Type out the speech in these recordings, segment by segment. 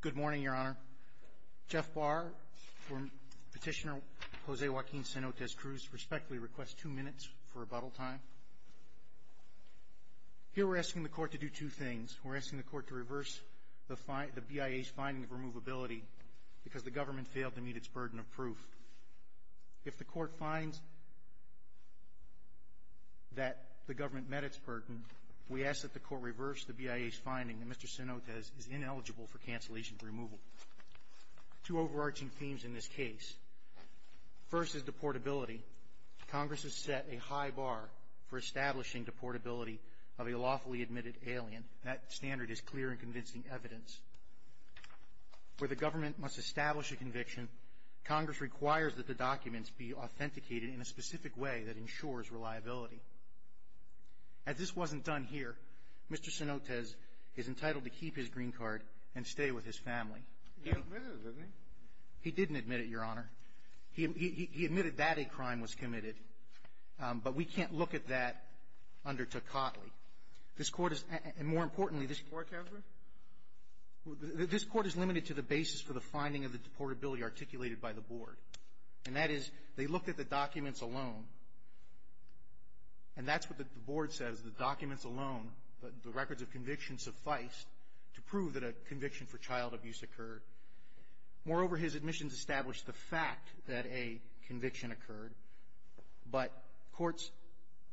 Good morning, Your Honor. Jeff Barr for Petitioner Jose Joaquin Cenotes-Cruz respectfully requests two minutes for rebuttal time. Here we're asking the Court to do two things. We're asking the Court to reverse the BIA's finding of removability because the government failed to meet its burden of proof. If the Court finds that the government met its burden, we ask that the Court reverse the BIA's finding that Mr. Cenotes is ineligible for cancellation of removal. Two overarching themes in this case. First is deportability. Congress has set a high bar for establishing deportability of a lawfully admitted alien. That standard is clear in convincing evidence. Where the government must establish a conviction, Congress requires that the documents be authenticated in a specific way that ensures reliability. As this wasn't done here, Mr. Cenotes is entitled to keep his green card and stay with his family. He admitted it, didn't he? He didn't admit it, Your Honor. He admitted that a crime was committed. But we can't look at that under Tocatli. This Court is — and more importantly, this Court — Portability? This Court is limited to the basis for the finding of the deportability articulated by the Board. And that is, they looked at the documents alone. And that's what the Board says. The documents alone, the records of conviction, sufficed to prove that a conviction for child abuse occurred. Moreover, his admissions established the fact that a conviction occurred. But courts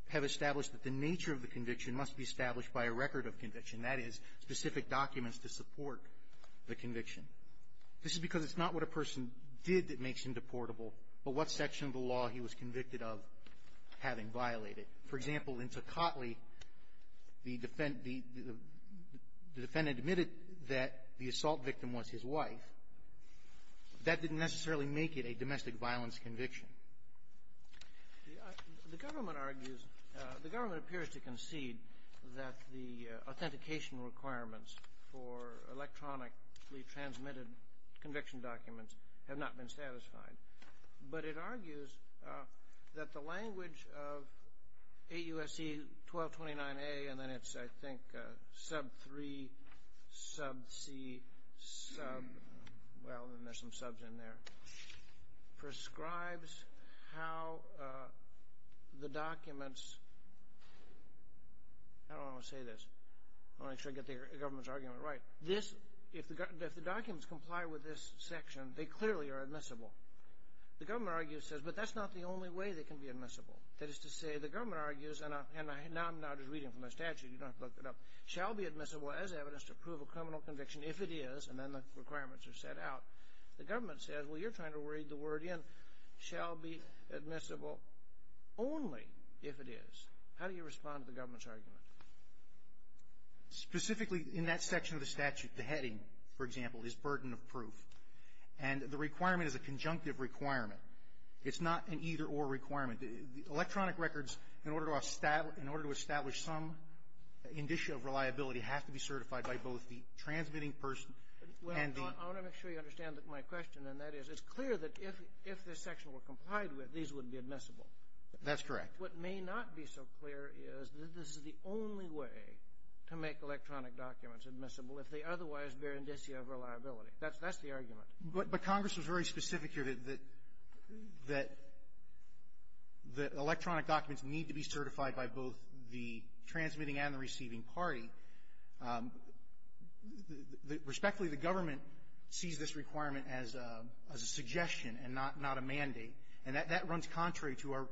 have established that the nature of the conviction must be established by a record of conviction. That is, specific documents to support the conviction. This is because it's not what a person did that makes him deportable, but what section of the law he was convicted of having violated. For example, in Tocatli, the defendant admitted that the assault victim was his wife. That didn't necessarily make it a domestic violence conviction. The government argues — the government appears to concede that the authentication requirements for electronically transmitted conviction documents have not been satisfied. But it argues that the language of 8 U.S.C. 1229A, and then it's, I think, sub 3, sub C, sub — I don't want to say this. I want to make sure I get the government's argument right. If the documents comply with this section, they clearly are admissible. The government argues, but that's not the only way they can be admissible. That is to say, the government argues, and now I'm just reading from the statute. You don't have to look it up. Shall be admissible as evidence to prove a criminal conviction if it is, and then the requirements are set out. The government says, well, you're trying to read the word in. Shall be admissible only if it is. How do you respond to the government's argument? Specifically, in that section of the statute, the heading, for example, is burden of proof. And the requirement is a conjunctive requirement. It's not an either-or requirement. The electronic records, in order to establish some indicia of reliability, have to be certified by both the transmitting person and the — I want to make sure you understand my question, and that is, it's clear that if this section were complied with, these would be admissible. That's correct. What may not be so clear is that this is the only way to make electronic documents admissible if they otherwise bear indicia of reliability. That's the argument. But Congress was very specific here that electronic documents need to be certified by both the transmitting and the receiving party. Respectfully, the government sees this requirement as a suggestion and not a mandate. And that runs contrary to our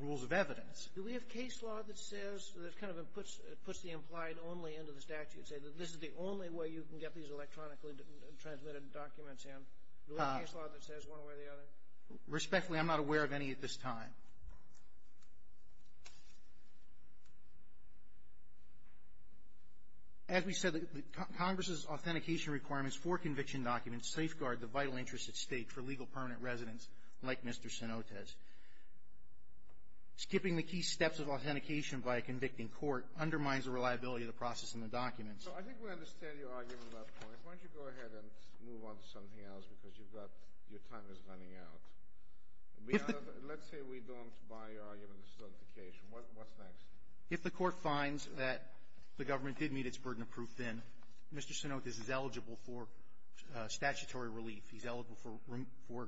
rules of evidence. Do we have case law that says, that kind of puts the implied only into the statute, say that this is the only way you can get these electronically transmitted documents in? Do we have case law that says one way or the other? Respectfully, I'm not aware of any at this time. Now, as we said, Congress's authentication requirements for conviction documents safeguard the vital interests at stake for legal permanent residents like Mr. Cenotes. Skipping the key steps of authentication by a convicting court undermines the reliability of the process in the documents. So I think we understand your argument about points. Why don't you go ahead and move on to something else because you've got — your time is running out. Let's say we don't buy your argument of certification. What's next? If the court finds that the government did meet its burden of proof, then Mr. Cenotes is eligible for statutory relief. He's eligible for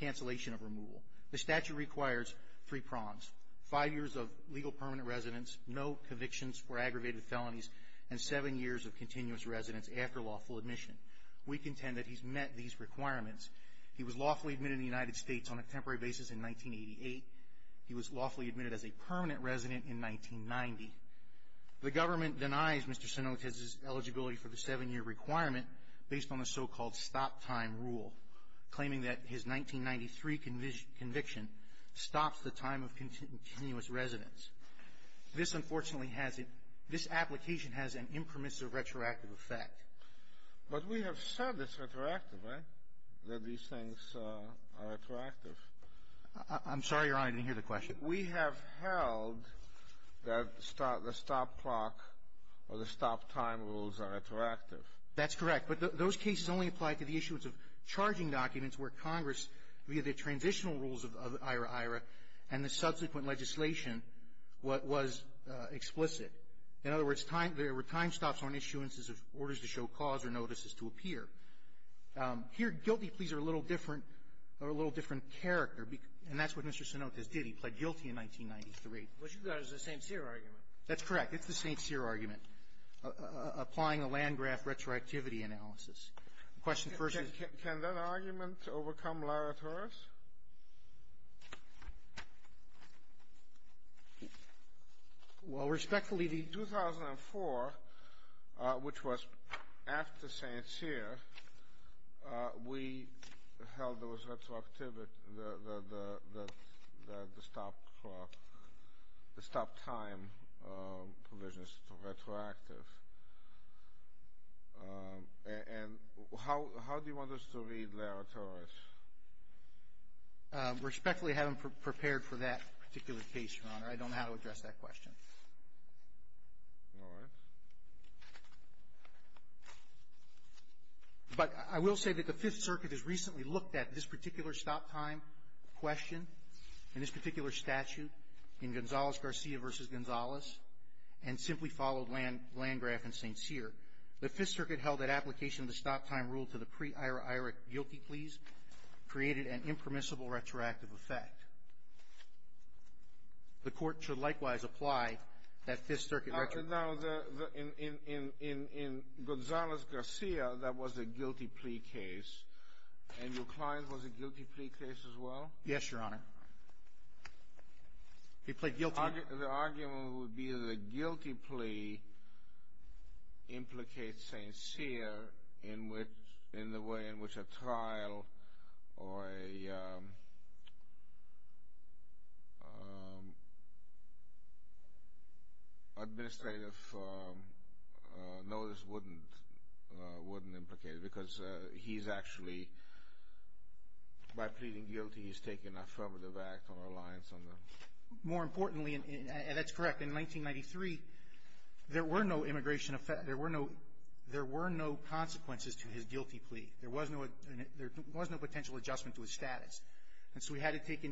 cancellation of removal. The statute requires three prongs, five years of legal permanent residence, no convictions for aggravated felonies, and seven years of continuous residence after lawful admission. We contend that he's met these requirements. He was lawfully admitted in the United States on a temporary basis in 1988. He was lawfully admitted as a permanent resident in 1990. The government denies Mr. Cenotes' eligibility for the seven-year requirement based on the so-called stop-time rule, claiming that his 1993 conviction stops the time of continuous residence. This, unfortunately, has — this application has an impermissive retroactive effect. But we have said it's retroactive, right, that these things are retroactive? I'm sorry, Your Honor. I didn't hear the question. We have held that the stop clock or the stop-time rules are retroactive. That's correct. But those cases only apply to the issuance of charging documents where Congress, via the transitional rules of IRA-IRA and the subsequent legislation, was explicit. In other words, there were time stops on issuances of orders to show cause or notices to appear. Here, guilty pleas are a little different — are a little different character. And that's what Mr. Cenotes did. He pled guilty in 1993. But you've got it as a St. Cyr argument. That's correct. It's the St. Cyr argument, applying a Landgraf retroactivity analysis. The question first is — Can that argument overcome Lara Torres? Well, respectfully, in 2004, which was after St. Cyr, we held those retroactivity — the stop clock, the stop-time provisions to retroactive. And how do you want us to read Lara Torres? Respectfully, I haven't prepared for that particular case, Your Honor. I don't know how to address that question. All right. But I will say that the Fifth Circuit has recently looked at this particular stop-time question in this particular statute, in Gonzales-Garcia v. Gonzales, and simply followed Landgraf and St. Cyr. The Fifth Circuit held that application of the stop-time rule to the pre-Ira-Ira guilty pleas created an impermissible retroactive effect. The Court should likewise apply that Fifth Circuit — Now, in Gonzales-Garcia, that was a guilty plea case. And your client was a guilty plea case as well? Yes, Your Honor. He pled guilty. The argument would be that a guilty plea implicates St. Cyr in the way in which a trial or an administrative notice wouldn't implicate it, because he's actually — by pleading guilty, he's taking an affirmative act on reliance on the — More importantly, and that's correct, in 1993, there were no immigration — there were no consequences to his guilty plea. There was no — there was no potential adjustment to his status. And so we had to take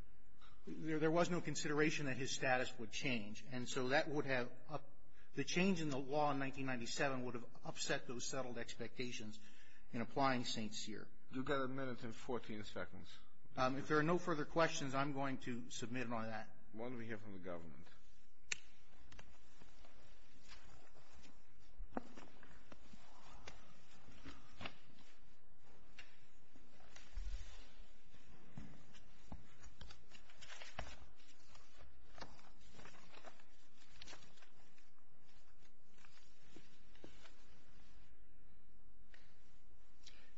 — there was no consideration that his status would change. And so that would have — the change in the law in 1997 would have upset those settled expectations in applying St. Cyr. You've got a minute and 14 seconds. If there are no further questions, I'm going to submit on that. Why don't we hear from the government?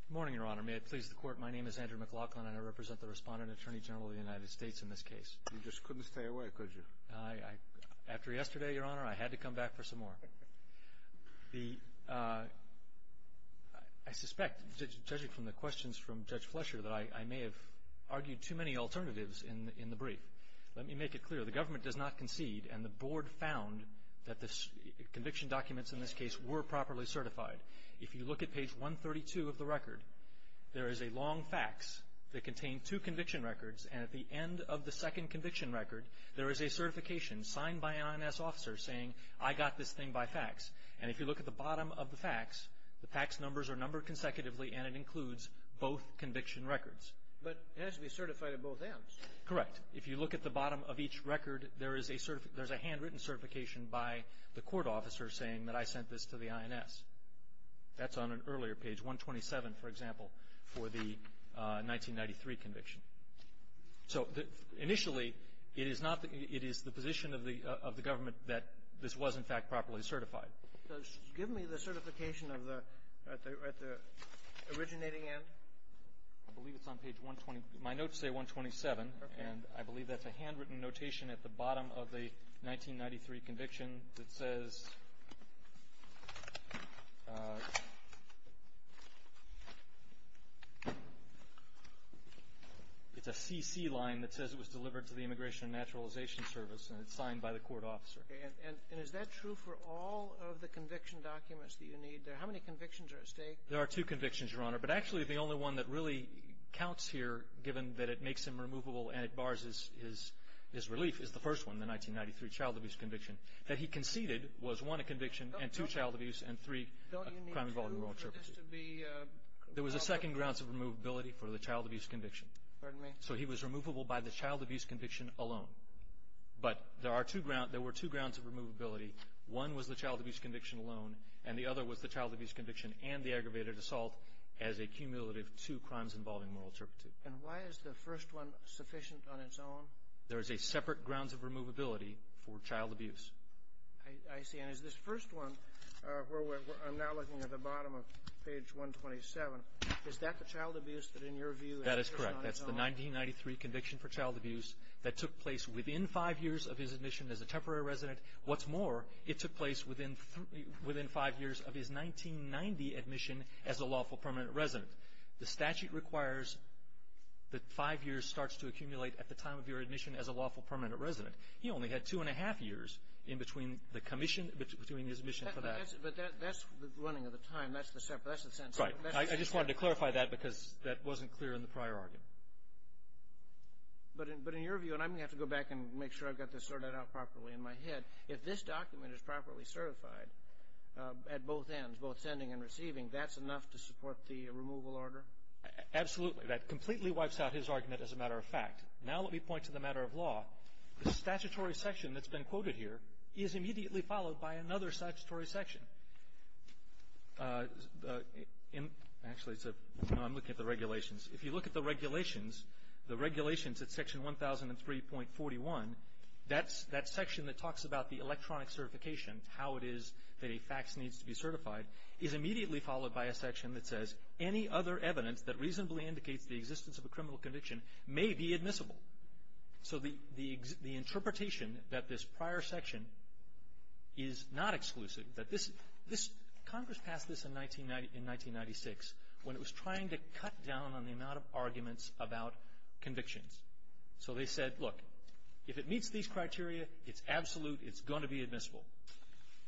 Good morning, Your Honor. May it please the Court, my name is Andrew McLaughlin, and I represent the Respondent Attorney General of the United States in this case. You just couldn't stay away, could you? After yesterday, Your Honor, I had to come back for some more. I suspect, judging from the questions from Judge Flesher, that I may have argued too many alternatives in the brief. Let me make it clear. The government does not concede, and the Board found that the conviction documents in this case were properly certified. If you look at page 132 of the record, there is a long fax that contained two conviction records. There is a certification signed by an INS officer saying, I got this thing by fax. And if you look at the bottom of the fax, the fax numbers are numbered consecutively and it includes both conviction records. But it has to be certified on both ends. Correct. If you look at the bottom of each record, there is a handwritten certification by the court officer saying that I sent this to the INS. That's on an earlier page, 127, for example, for the 1993 conviction. So initially, it is not the – it is the position of the government that this was, in fact, properly certified. So give me the certification of the – at the originating end. I believe it's on page 120 – my notes say 127. Okay. And I believe that's a handwritten notation at the bottom of the 1993 conviction that says – it's a CC line that says it was delivered to the Immigration and Naturalization Service and it's signed by the court officer. Okay. And is that true for all of the conviction documents that you need? How many convictions are at stake? There are two convictions, Your Honor. But actually, the only one that really counts here, given that it makes him removable and it bars his relief, is the first one, the 1993 child abuse conviction. That he conceded was, one, a conviction, and two, child abuse, and three, a crime involving moral interpretation. Don't you need two for this to be – There was a second grounds of removability for the child abuse conviction. Pardon me? So he was removable by the child abuse conviction alone. But there are two – there were two grounds of removability. One was the child abuse conviction alone, and the other was the child abuse conviction and the aggravated assault as a cumulative two crimes involving moral interpretation. And why is the first one sufficient on its own? There is a separate grounds of removability for child abuse. I see. And is this first one – I'm now looking at the bottom of page 127. Is that the child abuse that, in your view – That is correct. That's the 1993 conviction for child abuse that took place within five years of his admission as a temporary resident. What's more, it took place within five years of his 1990 admission as a lawful permanent resident. The statute requires that five years starts to accumulate at the time of your admission as a lawful permanent resident. He only had two and a half years in between the commission – between his admission for that. But that's the running of the time. That's the sentence. Right. I just wanted to clarify that because that wasn't clear in the prior argument. But in your view – and I'm going to have to go back and make sure I've got this sorted out properly in my head – if this document is properly certified at both ends, both sending and receiving, that's enough to support the removal order? Absolutely. That completely wipes out his argument as a matter of fact. Now let me point to the matter of law. The statutory section that's been quoted here is immediately followed by another statutory section. Actually, I'm looking at the regulations. If you look at the regulations, the regulations at Section 1003.41, that section that talks about the electronic certification, how it is that a fax needs to be certified, is immediately followed by a section that says, any other evidence that reasonably indicates the existence of a criminal conviction may be admissible. So the interpretation that this prior section is not exclusive, that this – Congress passed this in 1996 when it was trying to cut down on the amount of arguments about convictions. So they said, look, if it meets these criteria, it's absolute, it's going to be admissible.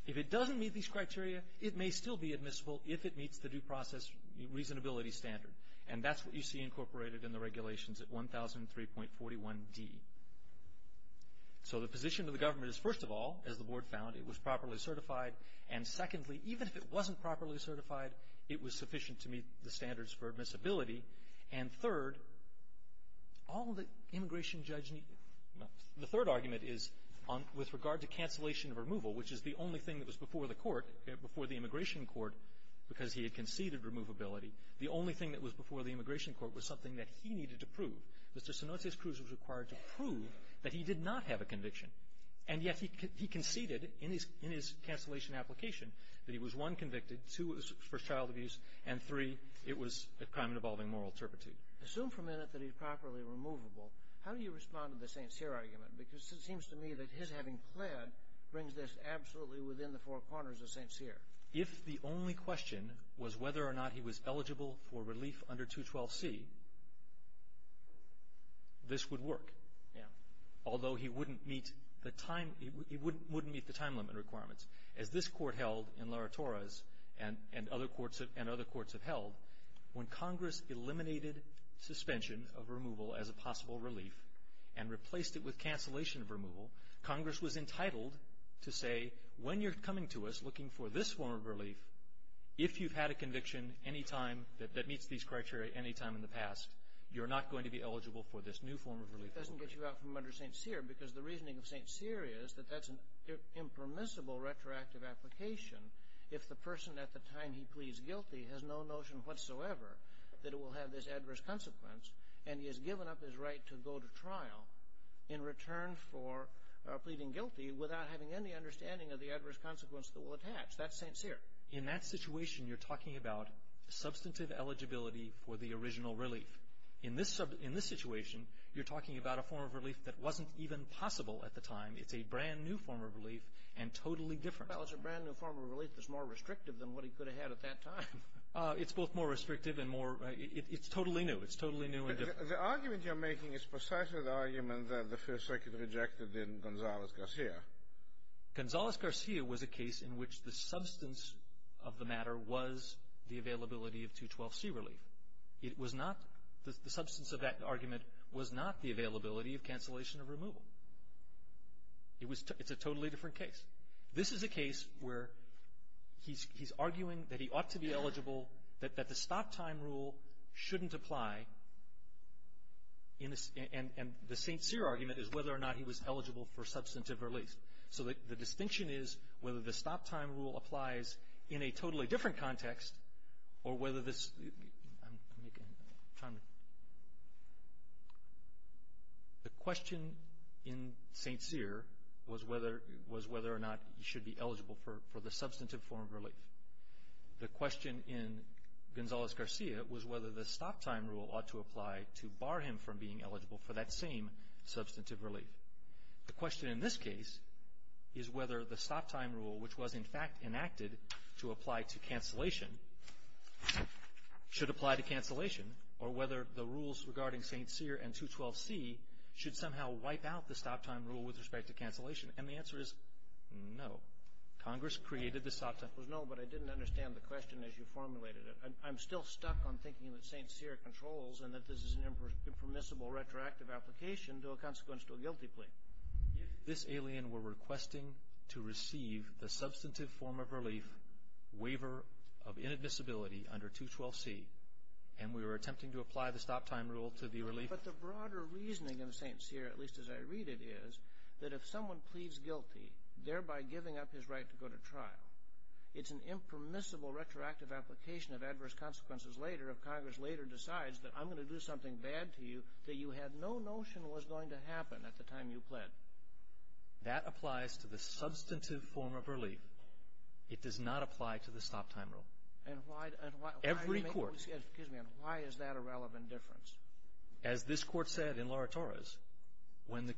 If it doesn't meet these criteria, it may still be admissible if it meets the due process reasonability standard. And that's what you see incorporated in the regulations at 1003.41d. So the position of the government is, first of all, as the Board found, it was properly certified. And secondly, even if it wasn't properly certified, it was sufficient to meet the standards for admissibility. And third, all the immigration judge – the third argument is with regard to cancellation of removal, which is the only thing that was before the court, before the immigration court, because he had conceded removability, the only thing that was before the immigration court was something that he needed to prove. Mr. Sinotius Cruz was required to prove that he did not have a conviction. And yet he conceded in his – in his cancellation application that he was, one, convicted, two, for child abuse, and three, it was a crime involving moral turpitude. Assume for a minute that he's properly removable. How do you respond to the St. Cyr argument? Because it seems to me that his having pled brings this absolutely within the four corners of St. Cyr. If the only question was whether or not he was eligible for relief under 212C, this would work. Yeah. Although he wouldn't meet the time – he wouldn't meet the time limit requirements. As this court held in Laura Torres, and other courts have held, when Congress eliminated suspension of removal as a possible relief and replaced it with cancellation of removal, Congress was entitled to say, when you're coming to us looking for this form of relief, if you've had a conviction any time that meets these criteria any time in the past, you're not going to be eligible for this new form of relief. Which doesn't get you out from under St. Cyr because the reasoning of St. Cyr is that that's an impermissible retroactive application if the person at the time he pleads guilty has no notion whatsoever that it will have this adverse consequence and he has given up his right to go to trial in return for pleading guilty without having any understanding of the adverse consequence that will attach. That's St. Cyr. In that situation, you're talking about substantive eligibility for the original relief. In this situation, you're talking about a form of relief that wasn't even possible at the time. It's a brand-new form of relief and totally different. Well, it's a brand-new form of relief that's more restrictive than what he could have had at that time. It's both more restrictive and more – it's totally new. It's totally new and different. The argument you're making is precisely the argument that the First Circuit rejected in Gonzales-Garcia. Gonzales-Garcia was a case in which the substance of the matter was the availability of 212C relief. It was not – the substance of that argument was not the availability of cancellation of removal. It's a totally different case. This is a case where he's arguing that he ought to be eligible, that the stop-time rule shouldn't apply, and the St. Cyr argument is whether or not he was eligible for substantive relief. So the distinction is whether the stop-time rule applies in a totally different context or whether this – let me make a time limit. The question in St. Cyr was whether or not he should be eligible for the substantive form of relief. The question in Gonzales-Garcia was whether the stop-time rule ought to apply to bar him from being eligible for that same substantive relief. The question in this case is whether the stop-time rule, which was in fact enacted to apply to cancellation, should apply to cancellation or whether the rules regarding St. Cyr and 212C should somehow wipe out the stop-time rule with respect to cancellation. And the answer is no. The answer was no, but I didn't understand the question as you formulated it. I'm still stuck on thinking that St. Cyr controls and that this is an impermissible retroactive application to a consequence to a guilty plea. If this alien were requesting to receive the substantive form of relief, waiver of inadmissibility under 212C, and we were attempting to apply the stop-time rule to the relief… But the broader reasoning in St. Cyr, at least as I read it, is that if someone pleads guilty, thereby giving up his right to go to trial, it's an impermissible retroactive application of adverse consequences later if Congress later decides that I'm going to do something bad to you that you had no notion was going to happen at the time you pled. That applies to the substantive form of relief. It does not apply to the stop-time rule. Every court… And why is that a relevant difference? As this court said in Laura Torres, when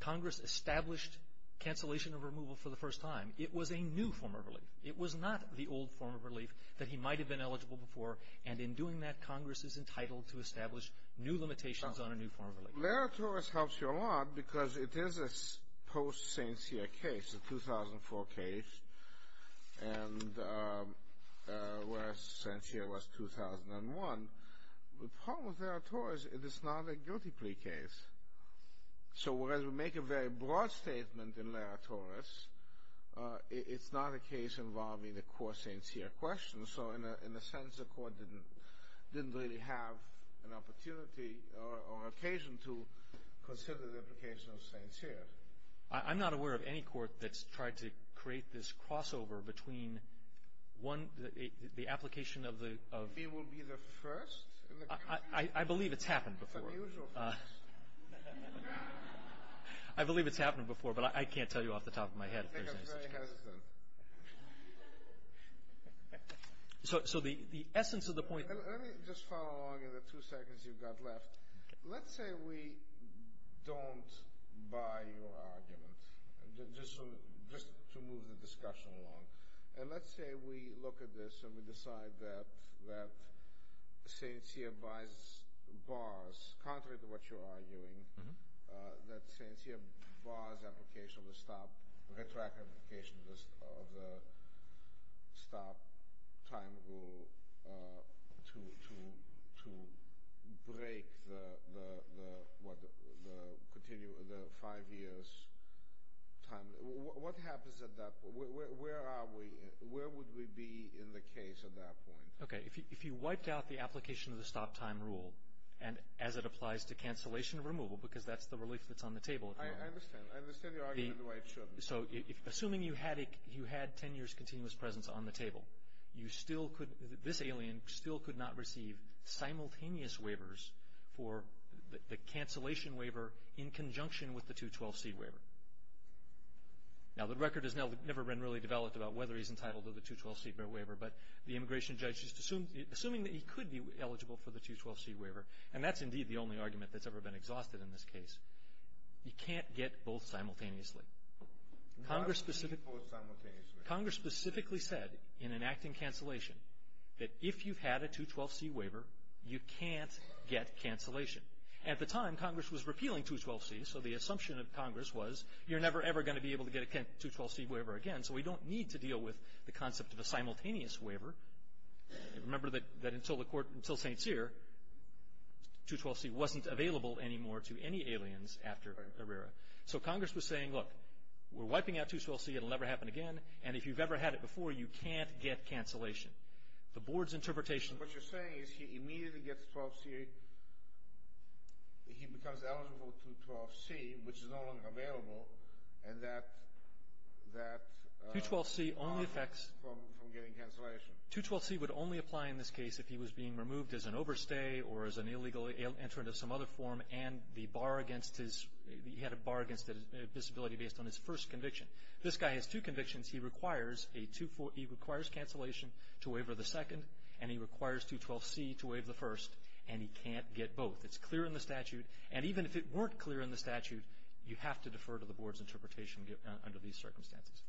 Congress established cancellation of removal for the first time, it was a new form of relief. It was not the old form of relief that he might have been eligible for, and in doing that, Congress is entitled to establish new limitations on a new form of relief. Laura Torres helps you a lot because it is a post-St. Cyr case, a 2004 case, and whereas St. Cyr was 2001. The problem with Laura Torres is it's not a guilty plea case. So, whereas we make a very broad statement in Laura Torres, it's not a case involving the core St. Cyr question. So, in a sense, the court didn't really have an opportunity or occasion to consider the application of St. Cyr. I'm not aware of any court that's tried to create this crossover between the application of the… I believe it's happened before. I believe it's happened before, but I can't tell you off the top of my head. I think I'm very hesitant. So, the essence of the point… Let me just follow along in the two seconds you've got left. Let's say we don't buy your argument, just to move the discussion along, and let's say we look at this and we decide that St. Cyr buys bars, contrary to what you're arguing, that St. Cyr buys application of the stop, retract application of the stop time rule to break the five years' time. What happens at that point? Where are we? Where would we be in the case at that point? Okay, if you wiped out the application of the stop time rule, and as it applies to cancellation of removal, because that's the relief that's on the table. I understand. I understand your argument why it shouldn't. So, assuming you had ten years' continuous presence on the table, this alien still could not receive simultaneous waivers for the cancellation waiver in conjunction with the 212C waiver. Now, the record has never been really developed about whether he's entitled to the 212C waiver, but the immigration judge is assuming that he could be eligible for the 212C waiver, and that's indeed the only argument that's ever been exhausted in this case. You can't get both simultaneously. You cannot get both simultaneously. Congress specifically said in enacting cancellation that if you've had a 212C waiver, you can't get cancellation. At the time, Congress was repealing 212C, so the assumption of Congress was you're never, ever going to be able to get a 212C waiver again, so we don't need to deal with the concept of a simultaneous waiver. Remember that until the court, until St. Cyr, 212C wasn't available anymore to any aliens after Herrera. So, Congress was saying, look, we're wiping out 212C. It'll never happen again, and if you've ever had it before, you can't get cancellation. The board's interpretation of it is that if you get a 212C waiver, you can't get cancellation. What you're saying is he immediately gets 12C. He becomes eligible for 212C, which is no longer available, and that prevents him from getting cancellation. 212C would only apply in this case if he was being removed as an overstay or as an illegal entrant of some other form, and he had a bar against it, a disability based on his first conviction. This guy has two convictions. He requires cancellation to waiver the second, and he requires 212C to waive the first, and he can't get both. It's clear in the statute, and even if it weren't clear in the statute, you have to defer to the board's interpretation under these circumstances.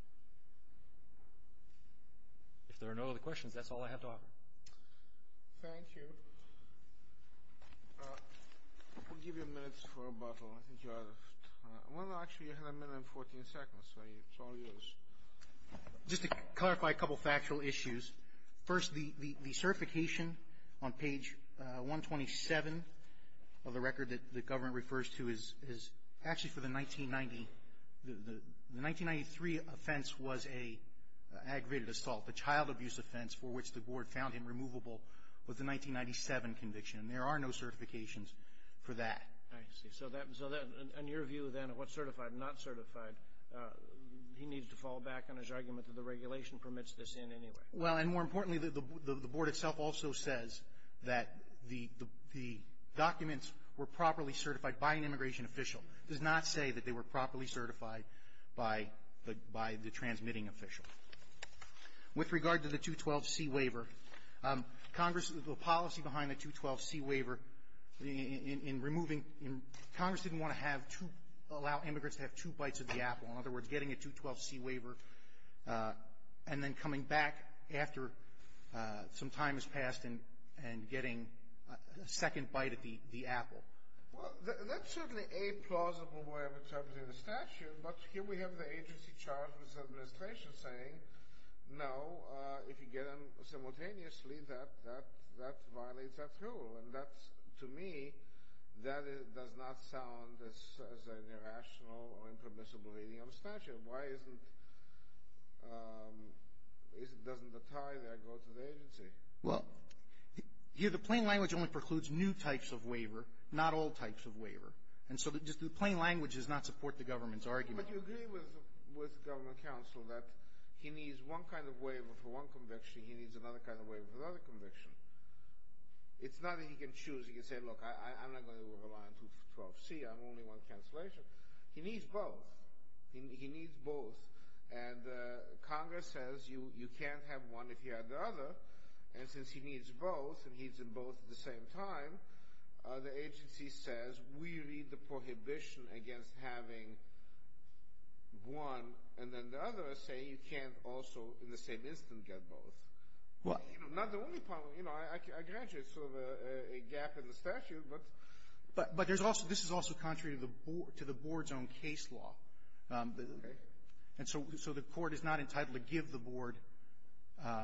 If there are no other questions, that's all I have to offer. Thank you. I'll give you minutes for rebuttal. I think you're out of time. Well, actually, you had a minute and 14 seconds, so it's all yours. Just to clarify a couple of factual issues. First, the certification on page 127 of the record that the government refers to is actually for the 1990. The 1993 offense was an aggravated assault, the child abuse offense, for which the board found him removable with the 1997 conviction, and there are no certifications for that. I see. So on your view, then, of what's certified and not certified, he needs to fall back on his argument that the regulation permits this in anyway. Well, and more importantly, the board itself also says that the documents were properly certified by an immigration official. It does not say that they were properly certified by the transmitting official. With regard to the 212C waiver, Congress, the policy behind the 212C waiver in removing Congress didn't want to have to allow immigrants to have two bites of the apple. In other words, getting a 212C waiver and then coming back after some time has passed and getting a second bite of the apple. Well, that's certainly a plausible way of interpreting the statute, but here we have the agency charged with the administration saying, no, if you get them simultaneously, that violates that rule. And that, to me, that does not sound as an irrational or impermissible reading of the statute. Why isn't the tie there go to the agency? Well, here the plain language only precludes new types of waiver, not old types of waiver. And so just the plain language does not support the government's argument. But you agree with government counsel that he needs one kind of waiver for one conviction. He needs another kind of waiver for another conviction. It's not that he can choose. He can say, look, I'm not going to rely on 212C. I'm only one cancellation. He needs both. He needs both. And Congress says you can't have one if you have the other. And since he needs both and he's in both at the same time, the agency says we read the prohibition against having one, and then the others say you can't also in the same instant get both. Not the only problem. You know, I grant you it's sort of a gap in the statute. But there's also this is also contrary to the board's own case law. Okay. And so the court is not entitled to give the board.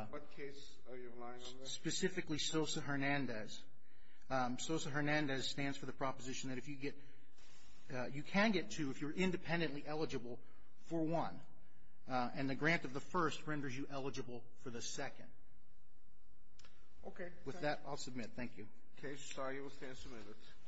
What case are you relying on? Specifically Sosa Hernandez. Sosa Hernandez stands for the proposition that if you get you can get two if you're independently eligible for one. And the grant of the first renders you eligible for the second. Okay. With that, I'll submit. Thank you. Case started. We'll stand some minutes.